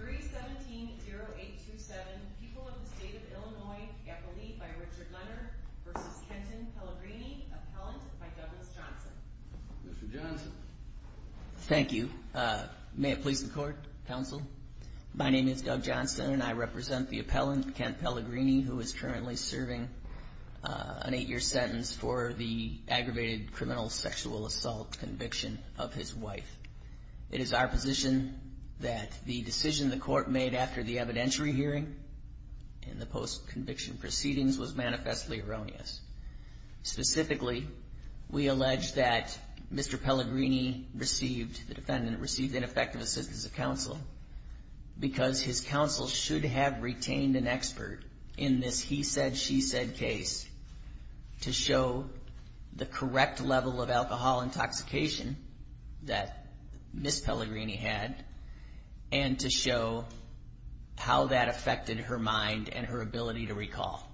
3-17-0827 People of the State of Illinois Appellee by Richard Leonard v. Kenton Pellegrini Appellant by Douglas Johnson Mr. Johnson Thank you. May it please the court, counsel? My name is Doug Johnson and I represent the appellant, Kent Pellegrini, who is currently serving an 8-year sentence for the aggravated criminal sexual assault conviction of his wife. It is our position that the decision the court made after the evidentiary hearing and the post-conviction proceedings was manifestly erroneous. Specifically, we allege that Mr. Pellegrini received, the defendant received ineffective assistance of counsel because his counsel should have retained an expert in this he-said-she-said case to show the correct level of alcohol intoxication that Ms. Pellegrini had and to show how that affected her mind and her ability to recall.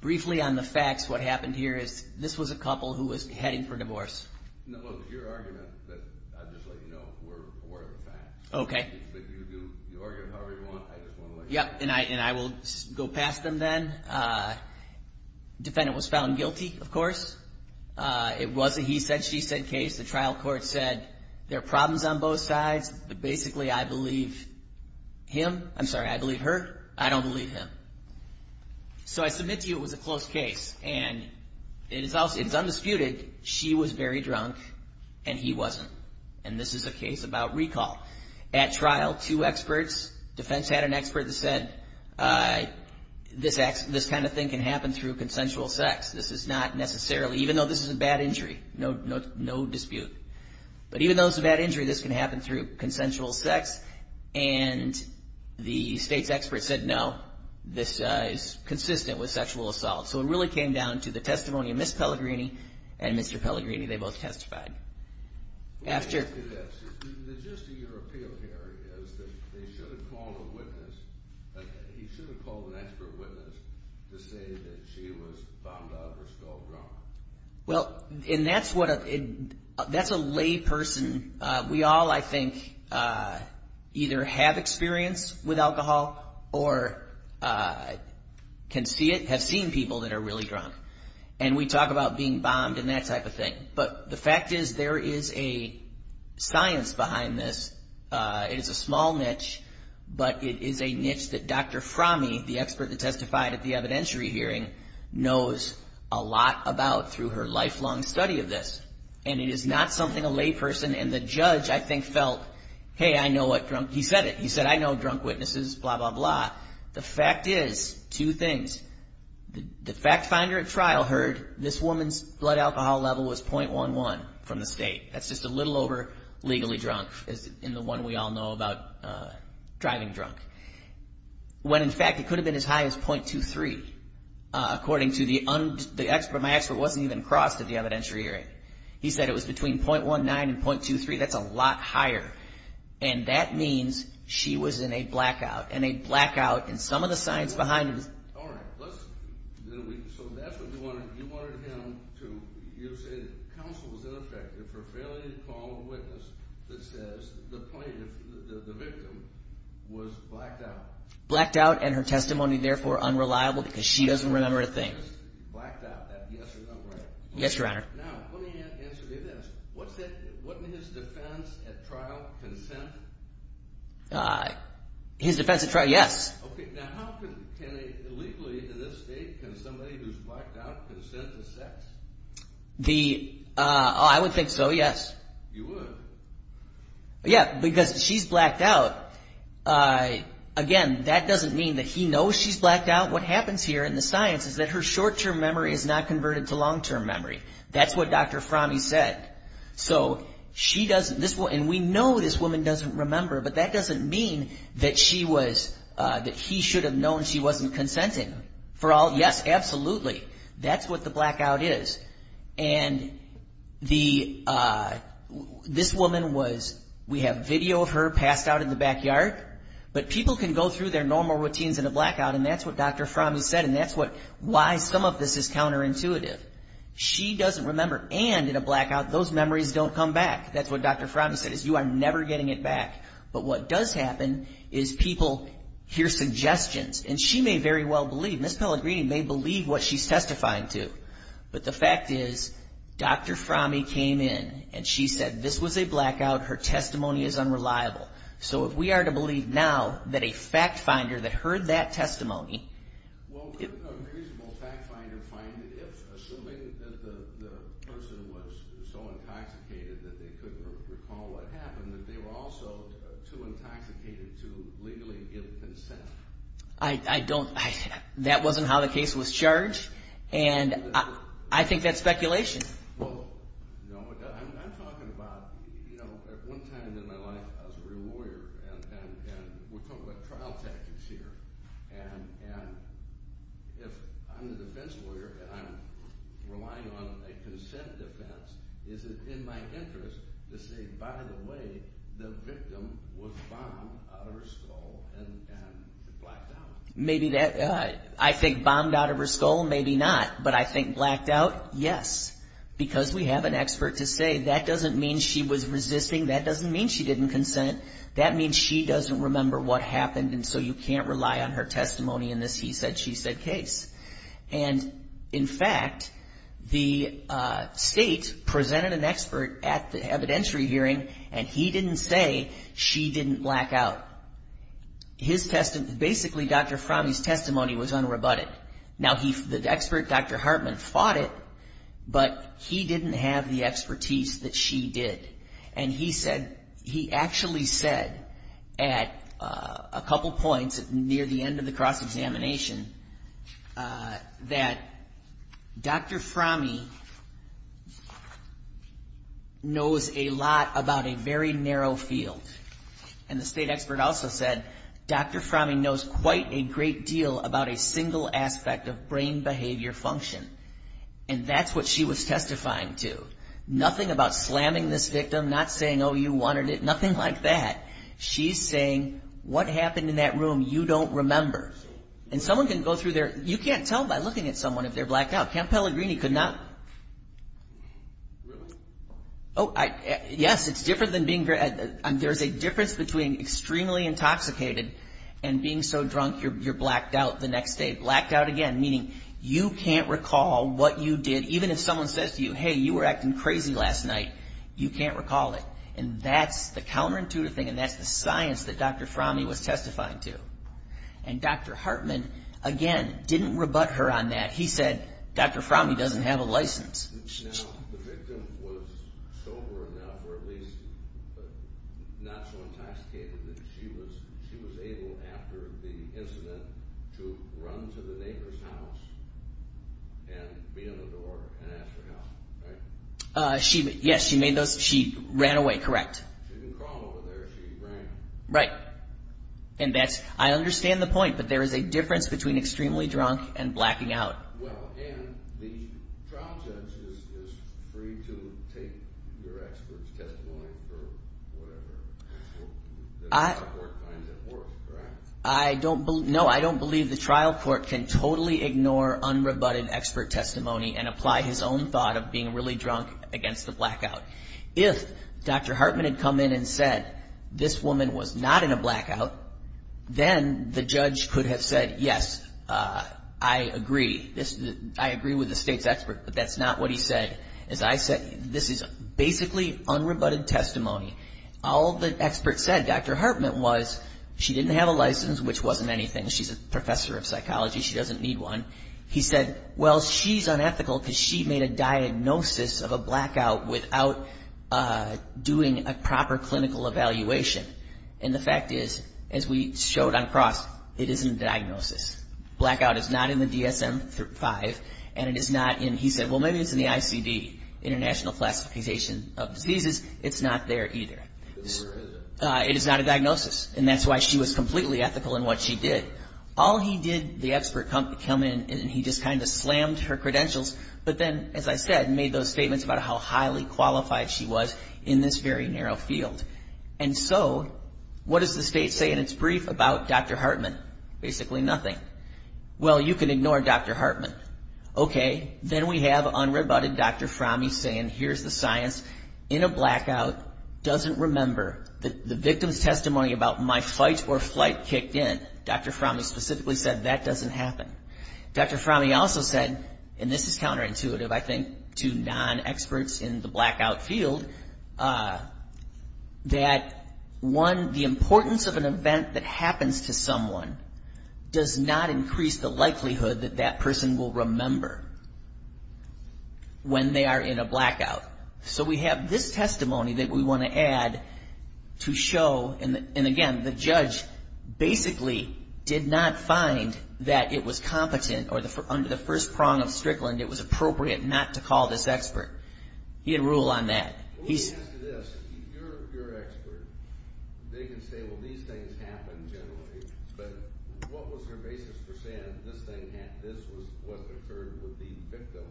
Briefly on the facts, what happened here is this was a couple who was heading for divorce. No, look, it's your argument, but I'll just let you know we're aware of the facts. Okay. If you argue however you want, I just want to let you know. Yep, and I will go past them then. Defendant was found guilty, of course. It was a he-said-she-said case. The trial court said there are problems on both sides. Basically, I believe him. I'm sorry, I believe her. I don't believe him. So I submit to you it was a close case, and it is undisputed she was very drunk and he wasn't. And this is a case about recall. At trial, two experts, defense had an expert that said this kind of thing can happen through consensual sex. This is not necessarily, even though this is a bad injury, no dispute. But even though it's a bad injury, this can happen through consensual sex, and the state's expert said no, this is consistent with sexual assault. So it really came down to the testimony of Ms. Pellegrini and Mr. Pellegrini. They both testified. The gist of your appeal here is that they should have called a witness. He should have called an expert witness to say that she was bombed out of her skull drunk. Well, and that's a lay person. We all, I think, either have experience with alcohol or have seen people that are really drunk. And we talk about being bombed and that type of thing. But the fact is there is a science behind this. It is a small niche, but it is a niche that Dr. Fromme, the expert that testified at the evidentiary hearing, knows a lot about through her lifelong study of this. And it is not something a lay person and the judge, I think, felt, hey, I know what drunk, he said it. He said, I know drunk witnesses, blah, blah, blah. The fact is two things. The fact finder at trial heard this woman's blood alcohol level was 0.11 from the state. That's just a little over legally drunk in the one we all know about driving drunk. When, in fact, it could have been as high as 0.23, according to the expert. My expert wasn't even crossed at the evidentiary hearing. He said it was between 0.19 and 0.23. That's a lot higher. And that means she was in a blackout. And a blackout. And some of the science behind it is. All right. So that's what you wanted him to, you said counsel was ineffective for failing to call a witness that says the victim was blacked out. Blacked out and her testimony, therefore, unreliable because she doesn't remember a thing. Blacked out, that yes or no, right? Yes, Your Honor. Now, let me answer this. Wasn't his defense at trial consent? His defense at trial. Yes. Okay. Now, how can legally in this state can somebody who's blacked out consent to sex? I would think so, yes. You would? Yeah, because she's blacked out. Again, that doesn't mean that he knows she's blacked out. What happens here in the science is that her short-term memory is not converted to long-term memory. That's what Dr. Frommie said. So she doesn't, and we know this woman doesn't remember, but that doesn't mean that she was, that he should have known she wasn't consenting. For all, yes, absolutely. That's what the blackout is. And this woman was, we have video of her passed out in the backyard. But people can go through their normal routines in a blackout, and that's what Dr. Frommie said. And that's why some of this is counterintuitive. She doesn't remember, and in a blackout, those memories don't come back. That's what Dr. Frommie said, is you are never getting it back. But what does happen is people hear suggestions, and she may very well believe, Ms. Pellegrini may believe what she's testifying to. But the fact is, Dr. Frommie came in, and she said, this was a blackout. Her testimony is unreliable. So if we are to believe now that a fact finder that heard that testimony. Well, could a reasonable fact finder find it? Assuming that the person was so intoxicated that they couldn't recall what happened, that they were also too intoxicated to legally give consent? I don't, that wasn't how the case was charged. And I think that's speculation. Well, no, I'm talking about, you know, at one time in my life, I was a real lawyer. And we're talking about trial tactics here. And if I'm a defense lawyer, and I'm relying on a consent defense, is it in my interest to say, by the way, the victim was bombed out of her skull and blacked out? Maybe that, I think bombed out of her skull, maybe not. But I think blacked out, yes. Because we have an expert to say that doesn't mean she was resisting, that doesn't mean she didn't consent, that means she doesn't remember what happened, and so you can't rely on her testimony in this he said, she said case. And, in fact, the state presented an expert at the evidentiary hearing, and he didn't say she didn't black out. His testimony, basically Dr. Frommie's testimony was unrebutted. Now, the expert, Dr. Hartman, fought it, but he didn't have the expertise that she did. And he said, he actually said at a couple points near the end of the cross-examination that Dr. Frommie knows a lot about a very narrow field. And the state expert also said Dr. Frommie knows quite a great deal about a single aspect of brain behavior function. And that's what she was testifying to. Nothing about slamming this victim, not saying, oh, you wanted it, nothing like that. She's saying, what happened in that room, you don't remember. And someone can go through their, you can't tell by looking at someone if they're blacked out. Camp Pellegrini could not, oh, yes, it's different than being, there's a difference between extremely intoxicated and being so drunk you're blacked out the next day. Blacked out again, meaning you can't recall what you did, even if someone says to you, hey, you were acting crazy last night, you can't recall it. And that's the counterintuitive thing, and that's the science that Dr. Frommie was testifying to. And Dr. Hartman, again, didn't rebut her on that. He said, Dr. Frommie doesn't have a license. Now the victim was sober enough or at least not so intoxicated that she was able, after the incident, to run to the neighbor's house and beat on the door and ask for help, right? Yes, she made those, she ran away, correct. She didn't crawl over there, she ran. Right. And that's, I understand the point, but there is a difference between extremely drunk and blacking out. Well, and the trial judge is free to take your expert's testimony or whatever. The trial court finds it worse, correct? No, I don't believe the trial court can totally ignore unrebutted expert testimony and apply his own thought of being really drunk against the blackout. If Dr. Hartman had come in and said, this woman was not in a blackout, then the judge could have said, yes, I agree. I agree with the state's expert, but that's not what he said. As I said, this is basically unrebutted testimony. All the experts said, Dr. Hartman was, she didn't have a license, which wasn't anything. She's a professor of psychology. She doesn't need one. He said, well, she's unethical because she made a diagnosis of a blackout without doing a proper clinical evaluation. And the fact is, as we showed on cross, it isn't a diagnosis. Blackout is not in the DSM-5, and it is not in, he said, well, maybe it's in the ICD, International Classification of Diseases. It's not there either. It is not a diagnosis, and that's why she was completely ethical in what she did. All he did, the expert come in, and he just kind of slammed her credentials, but then, as I said, made those statements about how highly qualified she was in this very narrow field. And so, what does the state say in its brief about Dr. Hartman? Basically nothing. Well, you can ignore Dr. Hartman. Okay, then we have unrebutted Dr. Frommie saying, here's the science. In a blackout, doesn't remember that the victim's testimony about my fight or flight kicked in. Dr. Frommie specifically said that doesn't happen. Dr. Frommie also said, and this is counterintuitive, I think, to non-experts in the blackout field, that one, the importance of an event that happens to someone does not increase the likelihood that that person will remember when they are in a blackout. So we have this testimony that we want to add to show, and again, the judge basically did not find that it was competent, or under the first prong of Strickland, it was appropriate not to call this expert. He had a rule on that. When we ask this, if you're an expert, they can say, well, these things happen generally, but what was her basis for saying this was what occurred with the victim,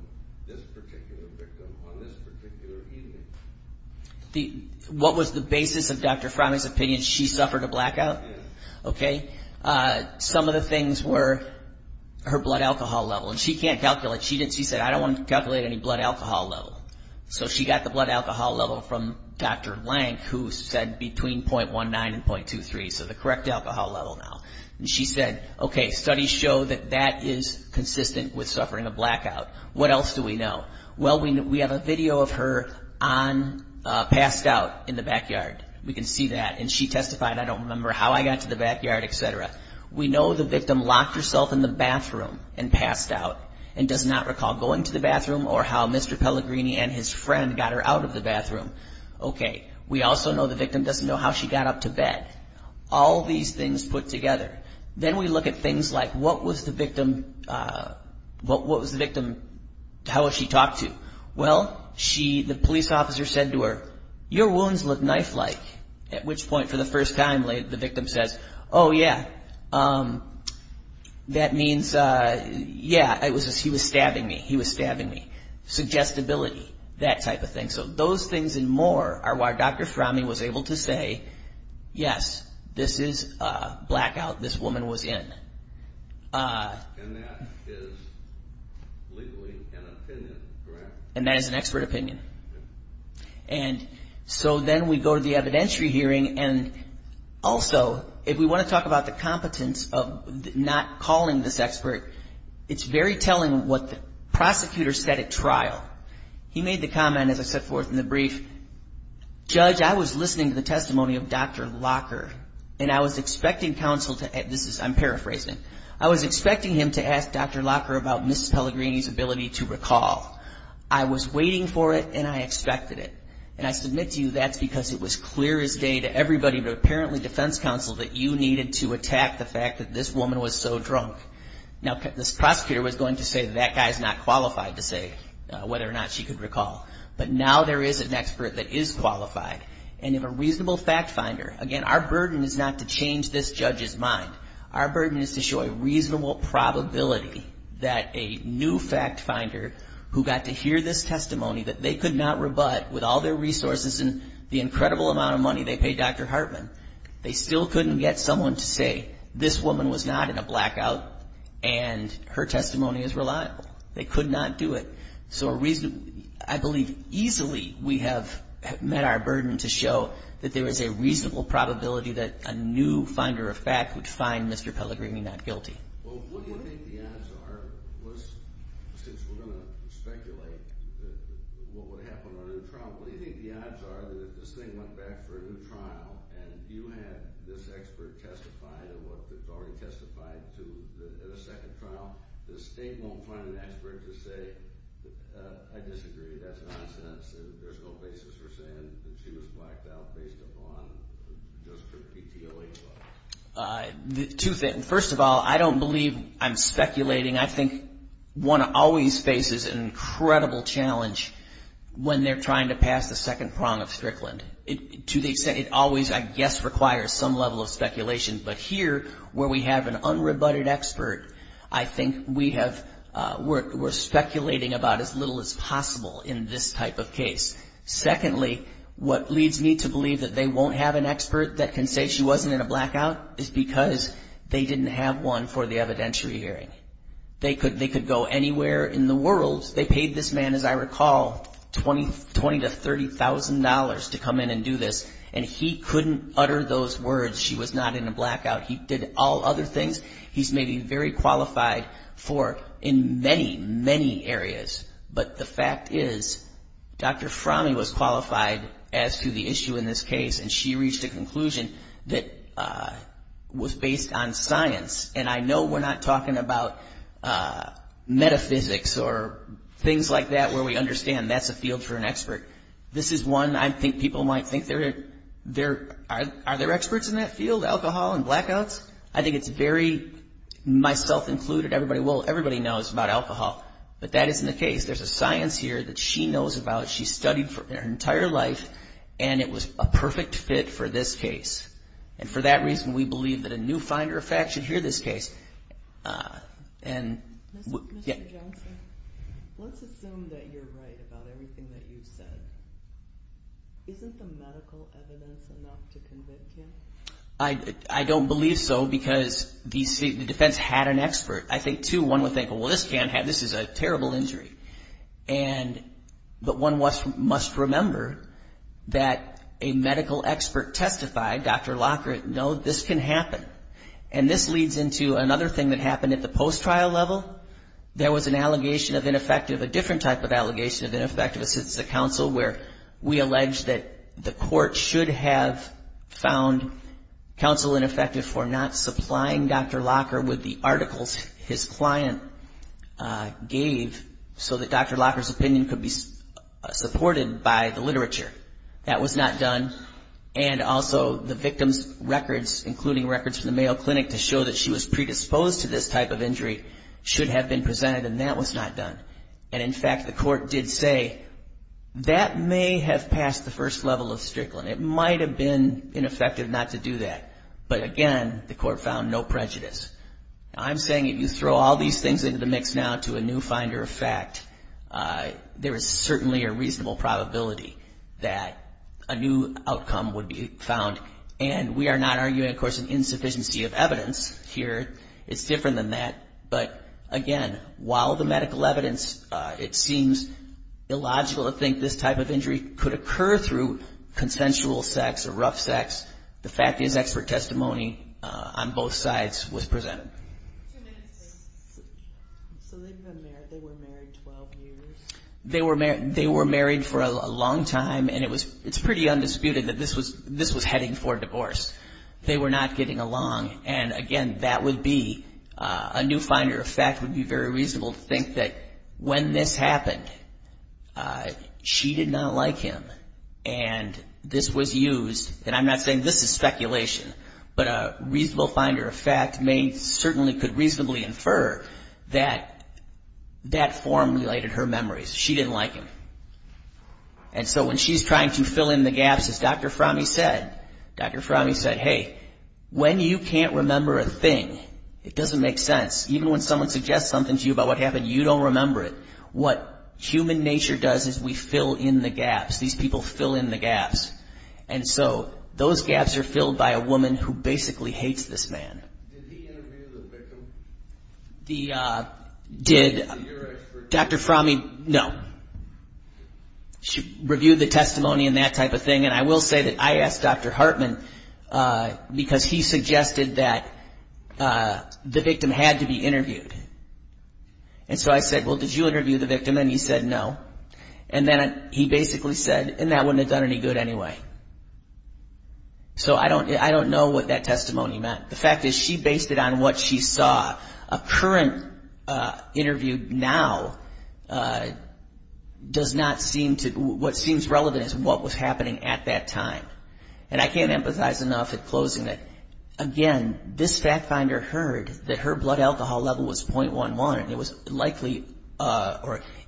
this particular victim, on this particular evening? What was the basis of Dr. Frommie's opinion? She suffered a blackout? Yes. Okay. Some of the things were her blood alcohol level, and she can't calculate. She said, I don't want to calculate any blood alcohol level. So she got the blood alcohol level from Dr. Lank, who said between .19 and .23, so the correct alcohol level now. And she said, okay, studies show that that is consistent with suffering a blackout. What else do we know? Well, we have a video of her passed out in the backyard. We can see that. And she testified, I don't remember how I got to the backyard, et cetera. We know the victim locked herself in the bathroom and passed out and does not recall going to the bathroom or how Mr. Pellegrini and his friend got her out of the bathroom. Okay. We also know the victim doesn't know how she got up to bed. All these things put together. Then we look at things like what was the victim, how was she talked to? Well, the police officer said to her, your wounds look knife-like, at which point for the first time the victim says, oh, yeah, that means, yeah, he was stabbing me, he was stabbing me. Suggestibility, that type of thing. So those things and more are why Dr. Srami was able to say, yes, this is a blackout. This woman was in. And that is legally an opinion, correct? And that is an expert opinion. And so then we go to the evidentiary hearing, and also if we want to talk about the competence of not calling this expert, it's very telling what the prosecutor said at trial. He made the comment, as I set forth in the brief, Judge, I was listening to the testimony of Dr. Locker, and I was expecting counsel to, this is, I'm paraphrasing, I was expecting him to ask Dr. Locker about Mrs. Pellegrini's ability to recall. I was waiting for it, and I expected it. And I submit to you that's because it was clear as day to everybody, but apparently defense counsel, that you needed to attack the fact that this woman was so drunk. Now, this prosecutor was going to say that guy is not qualified to say whether or not she could recall. But now there is an expert that is qualified. And if a reasonable fact finder, again, our burden is not to change this judge's mind. Our burden is to show a reasonable probability that a new fact finder, who got to hear this testimony, that they could not rebut with all their resources and the incredible amount of money they paid Dr. Hartman, they still couldn't get someone to say this woman was not in a blackout, and her testimony is reliable. They could not do it. So I believe easily we have met our burden to show that there is a reasonable probability that a new finder of fact would find Mr. Pellegrini not guilty. Well, what do you think the odds are, since we're going to speculate what would happen on a new trial, what do you think the odds are that if this thing went back for a new trial, and you had this expert testify to what the jury testified to at a second trial, the state won't find an expert to say, I disagree, that's nonsense, and there's no basis for saying that she was blacked out based upon just her PTOA. First of all, I don't believe I'm speculating. I think one always faces an incredible challenge when they're trying to pass the second prong of Strickland. To the extent it always, I guess, requires some level of speculation. But here, where we have an unrebutted expert, I think we're speculating about as little as possible in this type of case. Secondly, what leads me to believe that they won't have an expert that can say she wasn't in a blackout is because they didn't have one for the evidentiary hearing. They could go anywhere in the world. They paid this man, as I recall, $20,000 to $30,000 to come in and do this, and he couldn't utter those words, she was not in a blackout. He did all other things. He's maybe very qualified for in many, many areas. But the fact is, Dr. Fromme was qualified as to the issue in this case, and she reached a conclusion that was based on science. And I know we're not talking about metaphysics or things like that where we understand that's a field for an expert. This is one I think people might think, are there experts in that field, alcohol and blackouts? I think it's very myself included. Everybody knows about alcohol, but that isn't the case. There's a science here that she knows about. She studied for her entire life, and it was a perfect fit for this case. And for that reason, we believe that a new finder of fact should hear this case. Mr. Johnson, let's assume that you're right about everything that you've said. Isn't the medical evidence enough to convict him? I don't believe so, because the defense had an expert. I think, too, one would think, well, this is a terrible injury. But one must remember that a medical expert testified, Dr. Lockhart, no, this can happen. And this leads into another thing that happened at the post-trial level. There was an allegation of ineffective, a different type of allegation of that the court should have found counsel ineffective for not supplying Dr. Lockhart with the articles his client gave so that Dr. Lockhart's opinion could be supported by the literature. That was not done. And also the victim's records, including records from the Mayo Clinic, to show that she was predisposed to this type of injury, should have been presented, and that was not done. And, in fact, the court did say that may have passed the first level of Strickland. It might have been ineffective not to do that. But, again, the court found no prejudice. I'm saying if you throw all these things into the mix now to a new finder of fact, there is certainly a reasonable probability that a new outcome would be found. And we are not arguing, of course, an insufficiency of evidence here. It's different than that. But, again, while the medical evidence, it seems illogical to think this type of injury could occur through consensual sex or rough sex, the fact is expert testimony on both sides was presented. Two minutes. So they were married 12 years? They were married for a long time, and it's pretty undisputed that this was heading for divorce. They were not getting along. And, again, that would be a new finder of fact would be very reasonable to think that when this happened, she did not like him, and this was used. And I'm not saying this is speculation, but a reasonable finder of fact may certainly could reasonably infer that that form related her memories. She didn't like him. And so when she's trying to fill in the gaps, as Dr. Frommie said, Dr. Frommie said, hey, when you can't remember a thing, it doesn't make sense. Even when someone suggests something to you about what happened, you don't remember it. What human nature does is we fill in the gaps. These people fill in the gaps. And so those gaps are filled by a woman who basically hates this man. Did he interview the victim? Did Dr. Frommie? No. She reviewed the testimony and that type of thing. And I will say that I asked Dr. Hartman because he suggested that the victim had to be interviewed. And so I said, well, did you interview the victim? And he said no. And then he basically said, and that wouldn't have done any good anyway. So I don't know what that testimony meant. The fact is she based it on what she saw. A current interview now does not seem to, what seems relevant is what was happening at that time. And I can't empathize enough at closing that, again, this fact finder heard that her blood alcohol level was 0.11. It was likely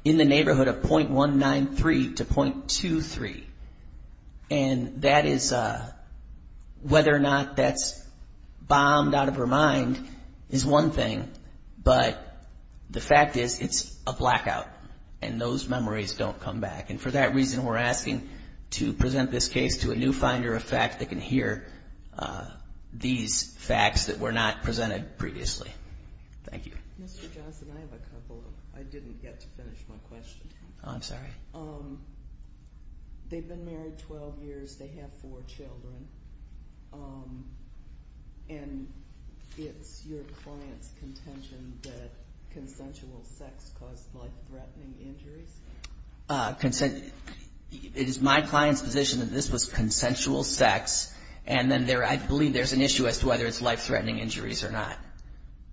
in the neighborhood of 0.193 to 0.23. And that is whether or not that's bombed out of her mind is one thing. But the fact is it's a blackout. And those memories don't come back. And for that reason, we're asking to present this case to a new finder of fact that can hear these facts that were not presented previously. Thank you. Mr. Johnson, I have a couple. I didn't get to finish my question. Oh, I'm sorry. They've been married 12 years. They have four children. And it's your client's contention that consensual sex caused life-threatening injuries? It is my client's position that this was consensual sex. And then I believe there's an issue as to whether it's life-threatening injuries or not.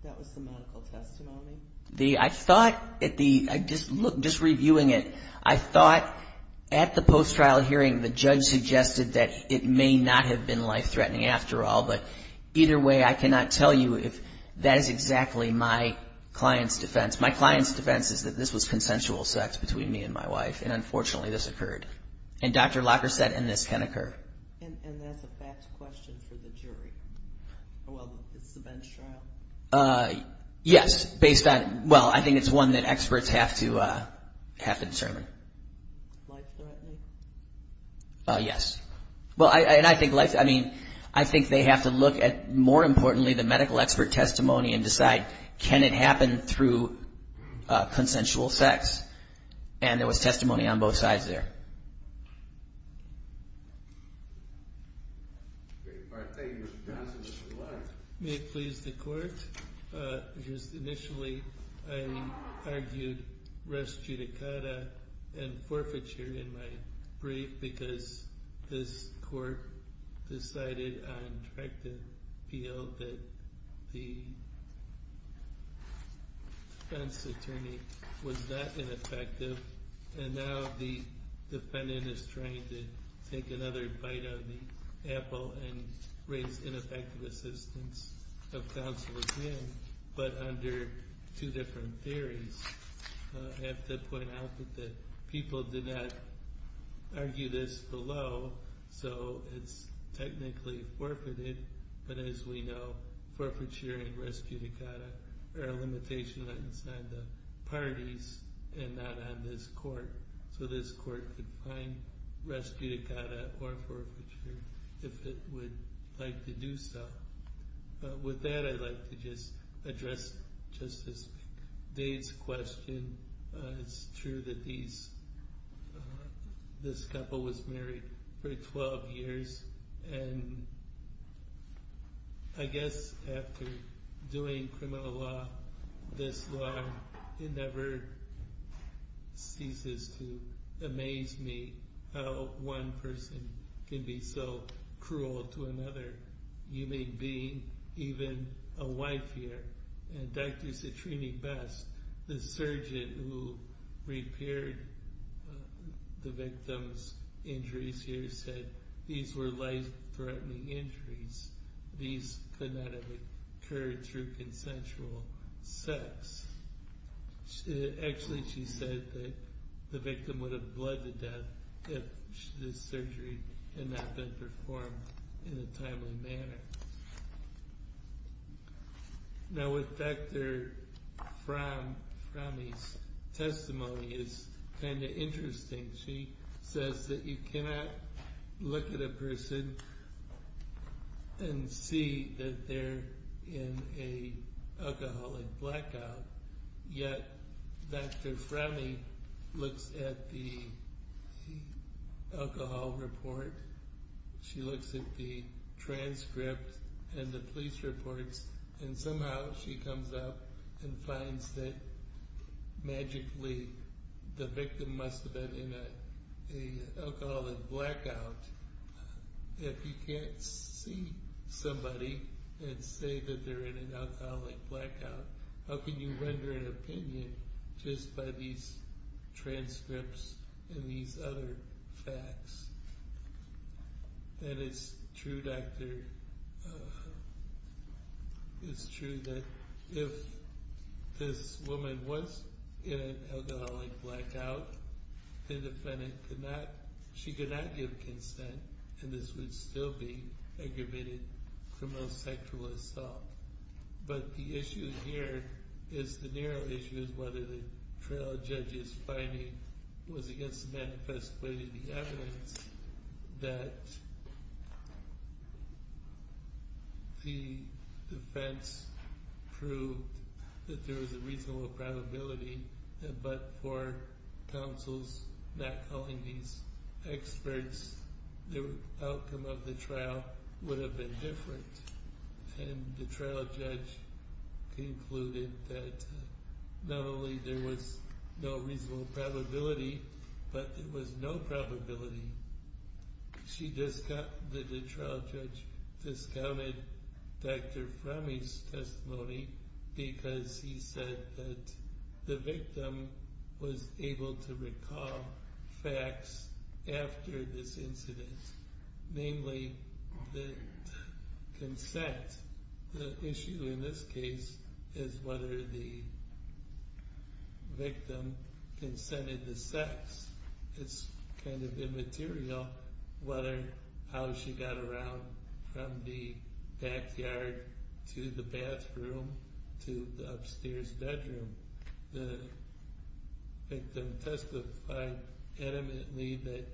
That was the medical testimony? I thought, just reviewing it, I thought at the post-trial hearing the judge suggested that it may not have been life-threatening after all. But either way, I cannot tell you if that is exactly my client's defense. My client's defense is that this was consensual sex between me and my wife. And, unfortunately, this occurred. And Dr. Locker said, and this can occur. And that's a fact question for the jury. Well, it's the bench trial. Yes, based on – well, I think it's one that experts have to determine. Life-threatening? Yes. Well, and I think life – I mean, I think they have to look at, more importantly, the medical expert testimony and decide can it happen through consensual sex. And there was testimony on both sides there. Great. All right. Thank you. May it please the Court? Just initially, I argued res judicata and forfeiture in my brief because this Court decided on direct appeal that the defense attorney was not ineffective. And now the defendant is trying to take another bite out of the apple and raise ineffective assistance of counsel again. But under two different theories. I have to point out that the people did not argue this below, so it's technically forfeited. But as we know, forfeiture and res judicata are a limitation inside the parties and not on this Court. So this Court could find res judicata or forfeiture if it would like to do so. With that, I'd like to just address Justice Dade's question. It's true that this couple was married for 12 years. And I guess after doing criminal law this long, it never ceases to amaze me how one person can be so cruel to another. You may be even a wife here. And Dr. Citrini Best, the surgeon who repaired the victim's injuries here, said these were life-threatening injuries. These could not have occurred through consensual sex. Actually, she said that the victim would have bled to death if this surgery had not been performed in a timely manner. Now with Dr. Frommi's testimony, it's kind of interesting. She says that you cannot look at a person and see that they're in an alcoholic blackout. Yet Dr. Frommi looks at the alcohol report, she looks at the transcript and the police reports, and somehow she comes up and finds that magically the victim must have been in an alcoholic blackout. If you can't see somebody and say that they're in an alcoholic blackout, how can you render an opinion just by these transcripts and these other facts? And it's true, Dr., it's true that if this woman was in an alcoholic blackout, the defendant could not, she could not give consent, and this would still be aggravated criminal sexual assault. But the issue here is the narrow issue of whether the trial judge's finding was against the manifest way to the evidence that the defense proved that there was a reasonable probability, but for counsels not calling these experts, the outcome of the trial would have been different. And the trial judge concluded that not only there was no reasonable probability, but there was no probability. The trial judge discounted Dr. Frommi's testimony because he said that the victim was able to recall facts after this incident. Namely, the consent, the issue in this case is whether the victim consented to sex. It's kind of immaterial how she got around from the backyard to the bathroom to the upstairs bedroom. The victim testified adamantly that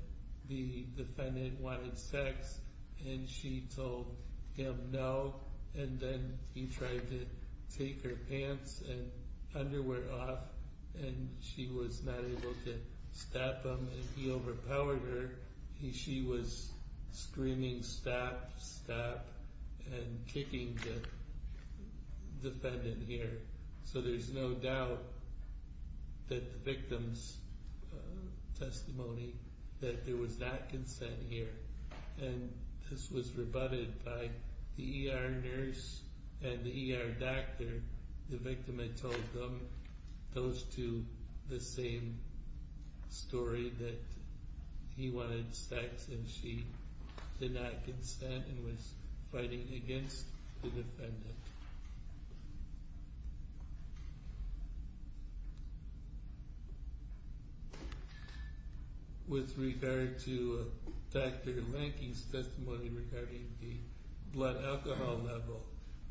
the defendant wanted sex, and she told him no, and then he tried to take her pants and underwear off, and she was not able to stop him, and he overpowered her. She was screaming stop, stop, and kicking the defendant here. So there's no doubt that the victim's testimony that there was not consent here, and this was rebutted by the ER nurse and the ER doctor. The victim had told them those two the same story that he wanted sex and she did not consent and was fighting against the defendant. With regard to Dr. Lanky's testimony regarding the blood alcohol level,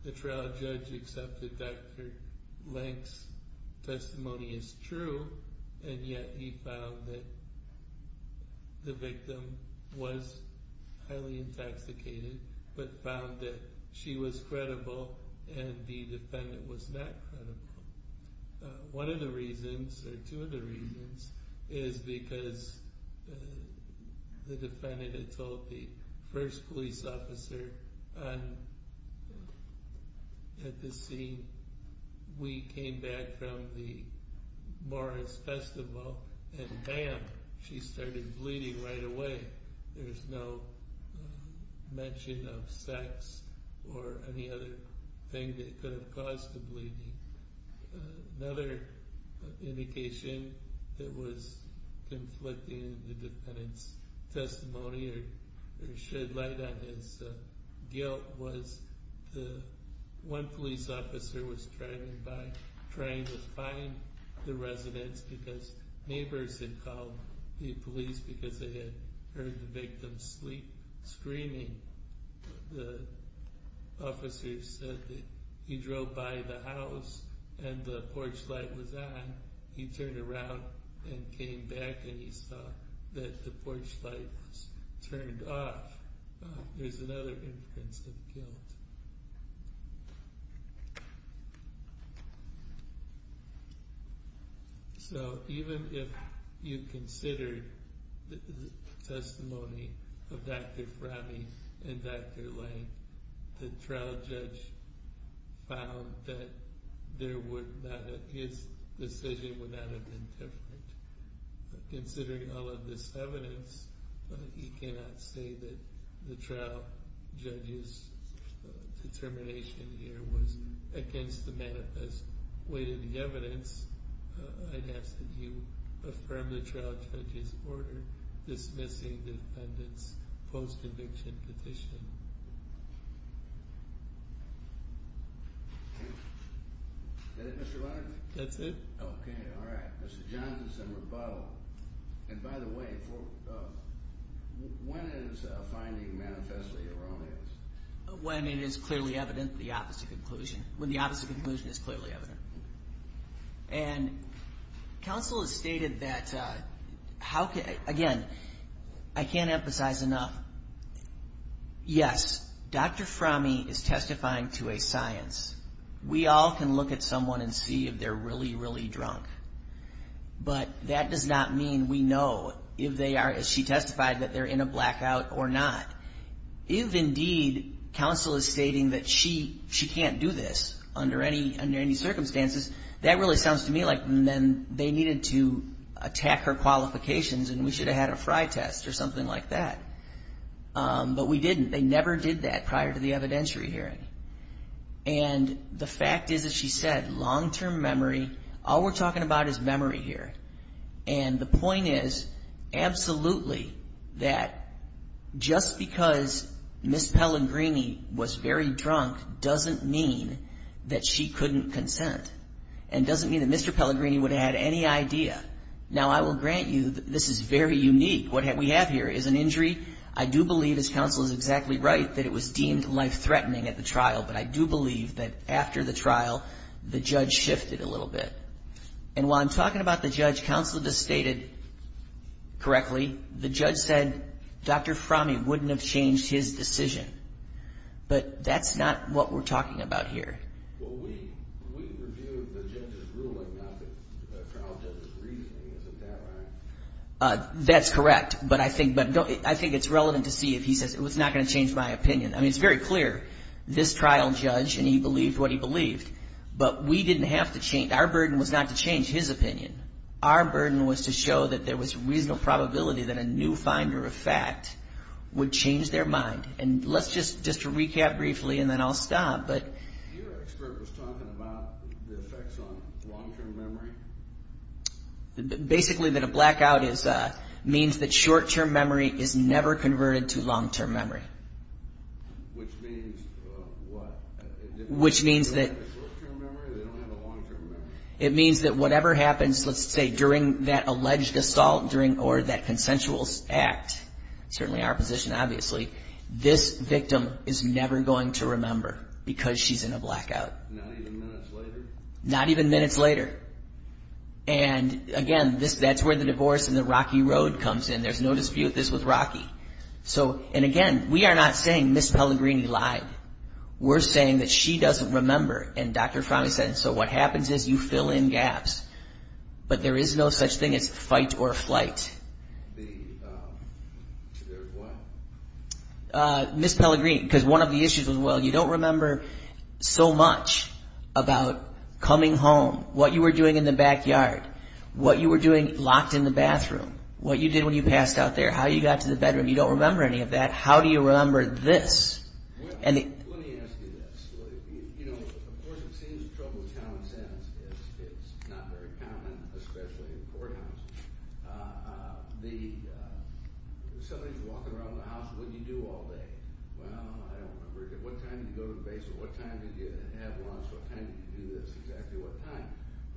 the trial judge accepted Dr. Lank's testimony as true, and yet he found that the victim was highly intoxicated, but found that she was credible and the defendant was not credible. One of the reasons, or two of the reasons, is because the defendant had told the first police officer at the scene, we came back from the Morris Festival and bam, she started bleeding right away. There's no mention of sex or any other thing that could have caused the bleeding. Another indication that was conflicting with the defendant's testimony or shed light on his guilt was one police officer was driving by trying to find the residents because neighbors had called the police because they had heard the victim scream. The officer said that he drove by the house and the porch light was on, he turned around and came back and he saw that the porch light was turned off. There's another inference of guilt. So even if you considered the testimony of Dr. Franny and Dr. Lank, the trial judge found that his decision would not have been different. Considering all of this evidence, he cannot say that the trial judge's determination here was against the manifest way to the evidence. I'd ask that you affirm the trial judge's order dismissing the defendant's post-conviction petition. Is that it Mr. Leonard? That's it. Okay, all right. Mr. Johnson's in rebuttal. And by the way, when is finding manifestly erroneous? When it is clearly evident the opposite conclusion. When the opposite conclusion is clearly evident. And counsel has stated that, again, I can't emphasize enough. Yes, Dr. Franny is testifying to a science. We all can look at someone and see if they're really, really drunk. But that does not mean we know if they are, as she testified, that they're in a blackout or not. If, indeed, counsel is stating that she can't do this under any circumstances, that really sounds to me like they needed to attack her qualifications and we should have had a fry test or something like that. But we didn't. They never did that prior to the evidentiary hearing. And the fact is, as she said, long-term memory, all we're talking about is memory here. And the point is, absolutely, that just because Ms. Pellegrini was very drunk doesn't mean that she couldn't consent. And doesn't mean that Mr. Pellegrini would have had any idea. Now, I will grant you that this is very unique. What we have here is an injury. I do believe, as counsel is exactly right, that it was deemed life-threatening at the trial. But I do believe that after the trial, the judge shifted a little bit. And while I'm talking about the judge, counsel just stated correctly, the judge said Dr. Fromme wouldn't have changed his decision. But that's not what we're talking about here. That's correct. But I think it's relevant to see if he says, it's not going to change my opinion. I mean, it's very clear. This trial judge, and he believed what he believed. But we didn't have to change. Our burden was not to change his opinion. Our burden was to show that there was reasonable probability that a new finder of fact would change their mind. And let's just recap briefly, and then I'll stop. Basically, that a blackout means that short-term memory is never converted to long-term memory. Which means what? Which means that. They don't have a short-term memory? They don't have a long-term memory? It means that whatever happens, let's say, during that alleged assault or that consensual act, certainly our position obviously, this victim is never going to remember because she's in a blackout. Not even minutes later? Not even minutes later. And again, that's where the divorce and the rocky road comes in. There's no dispute. This was rocky. And again, we are not saying Ms. Pellegrini lied. We're saying that she doesn't remember. And Dr. Fromme said, so what happens is you fill in gaps. But there is no such thing as fight or flight. Ms. Pellegrini, because one of the issues was, well, you don't remember so much about coming home, what you were doing in the backyard, what you were doing locked in the bathroom, what you did when you passed out there, how you got to the bedroom. You don't remember any of that. How do you remember this? Well, let me ask you this. You know, of course, it seems trouble of common sense. It's not very common, especially in courthouses. Somebody's walking around the house. What do you do all day? Well, I don't remember. What time did you go to the basement? What time did you have lunch? What time did you do this? Exactly what time?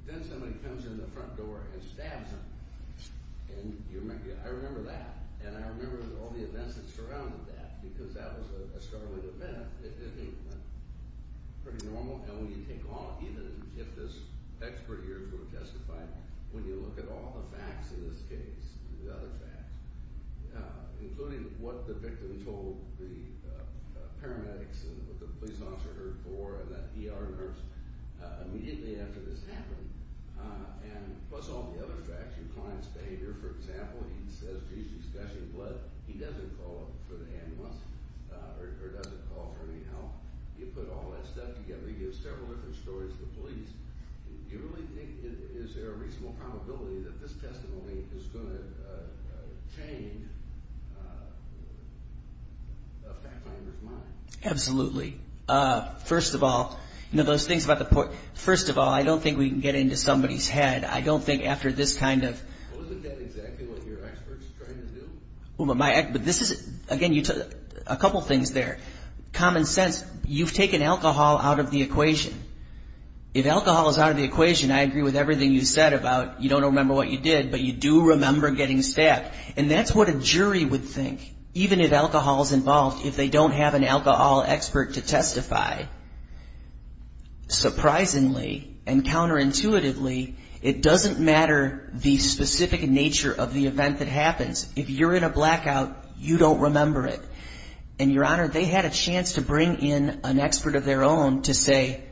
Then somebody comes in the front door and stabs him. And I remember that. And I remember all the events that surrounded that because that was a startling event. It didn't seem pretty normal. And when you take all of it, even if this expert here were justified, when you look at all the facts in this case, the other facts, including what the victim told the paramedics and what the police officer heard for that ER nurse immediately after this happened, and plus all the other facts, your client's behavior, for example, he says to you he's gushing blood. He doesn't call for the ambulance or doesn't call for any help. You put all that stuff together. He gives several different stories to the police. Do you really think is there a reasonable probability that this testimony is going to change a fact finder's mind? Absolutely. First of all, I don't think we can get into somebody's head. I don't think after this kind of – Wasn't that exactly what your expert's trying to do? Again, a couple things there. Common sense, you've taken alcohol out of the equation. If alcohol is out of the equation, I agree with everything you said about you don't remember what you did, but you do remember getting stabbed. And that's what a jury would think, even if alcohol is involved, if they don't have an alcohol expert to testify. Surprisingly and counterintuitively, it doesn't matter the specific nature of the event that happens. If you're in a blackout, you don't remember it. And, Your Honor, they had a chance to bring in an expert of their own to say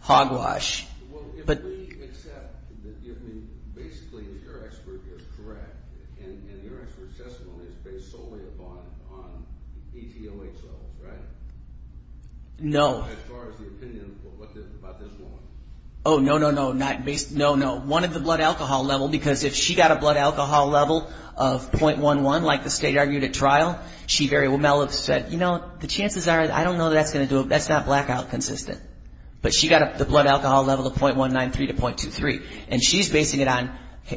hogwash. Well, if we accept that basically your expert is correct, and your expert's testimony is based solely on ETLH levels, right? No. As far as the opinion about this woman. Oh, no, no, no. One of the blood alcohol level, because if she got a blood alcohol level of .11, like the state argued at trial, she very well – Mel said, you know, the chances are – I don't know that's going to do it. That's not blackout consistent. But she got the blood alcohol level of .193 to .23. And she's basing it on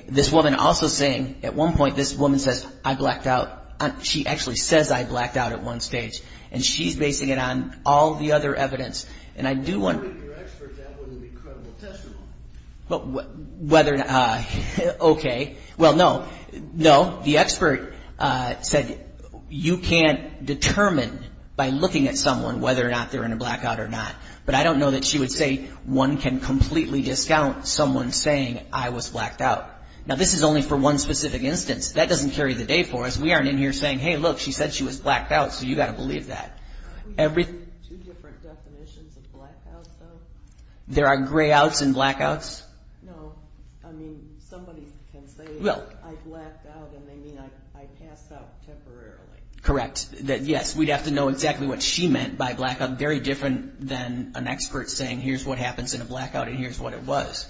this woman also saying, at one point, this woman says, I blacked out. She actually says I blacked out at one stage. And she's basing it on all the other evidence. And I do want – If it were your expert, that wouldn't be credible testimony. Whether – okay. Well, no. No. The expert said you can't determine by looking at someone whether or not they're in a blackout or not. But I don't know that she would say one can completely discount someone saying I was blacked out. Now, this is only for one specific instance. That doesn't carry the day for us. We aren't in here saying, hey, look, she said she was blacked out. So you've got to believe that. Are there two different definitions of blackout, though? There are grayouts and blackouts. No. I mean, somebody can say I blacked out, and they mean I passed out temporarily. Correct. Yes, we'd have to know exactly what she meant by blackout. Very different than an expert saying here's what happens in a blackout and here's what it was.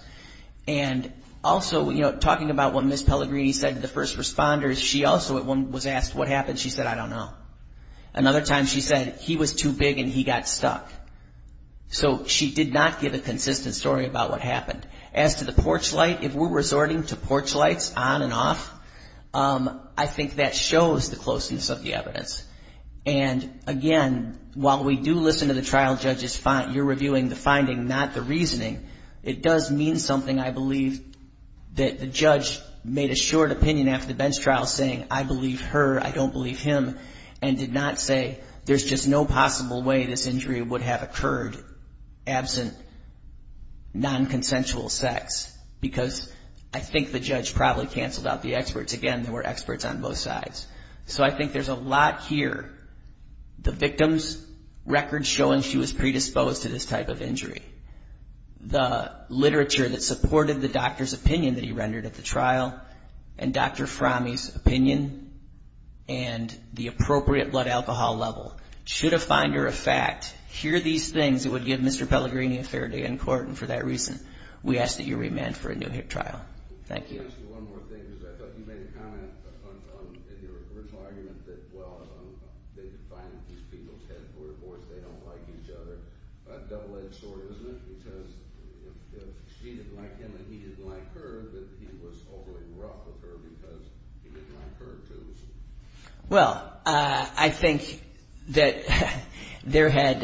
And also, you know, talking about what Ms. Pellegrini said to the first responders, she also at one was asked what happened. She said I don't know. Another time she said he was too big and he got stuck. So she did not give a consistent story about what happened. As to the porch light, if we're resorting to porch lights on and off, I think that shows the closeness of the evidence. And, again, while we do listen to the trial judge's, you're reviewing the finding, not the reasoning, it does mean something, I believe, that the judge made a short opinion after the bench trial saying, I believe her, I don't believe him, and did not say there's just no possible way this injury would have occurred absent nonconsensual sex. Because I think the judge probably canceled out the experts. Again, there were experts on both sides. So I think there's a lot here. The victim's record showing she was predisposed to this type of injury. The literature that supported the doctor's opinion that he rendered at the trial and Dr. Fromme's opinion and the appropriate blood alcohol level. Should a finder of fact hear these things, it would give Mr. Pellegrini a fair day in court. And for that reason, we ask that you remand for a new trial. Thank you. Let me ask you one more thing, because I thought you made a comment in your original argument that, well, they defined these people's head for their voice, they don't like each other. A double-edged sword, isn't it? Because if she didn't like him and he didn't like her, then he was overly rough with her because he didn't like her, too. Well, I think that there had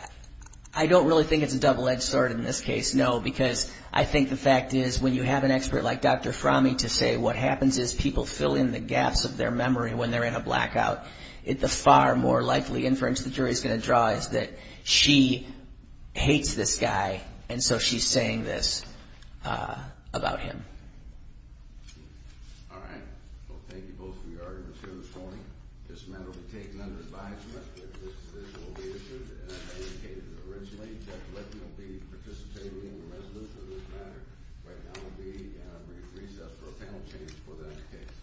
– I don't really think it's a double-edged sword in this case, no, because I think the fact is when you have an expert like Dr. Fromme to say what happens is people fill in the gaps of their memory when they're in a blackout, the far more likely inference the jury is going to draw is that she hates this guy and so she's saying this about him. All right. Well, thank you both for your arguments here this morning. This matter will be taken under advisement. This case will be issued as I indicated originally. Judge Leckie will be participating in the resolution of this matter. Right now, there will be a brief recess for a panel change for that case.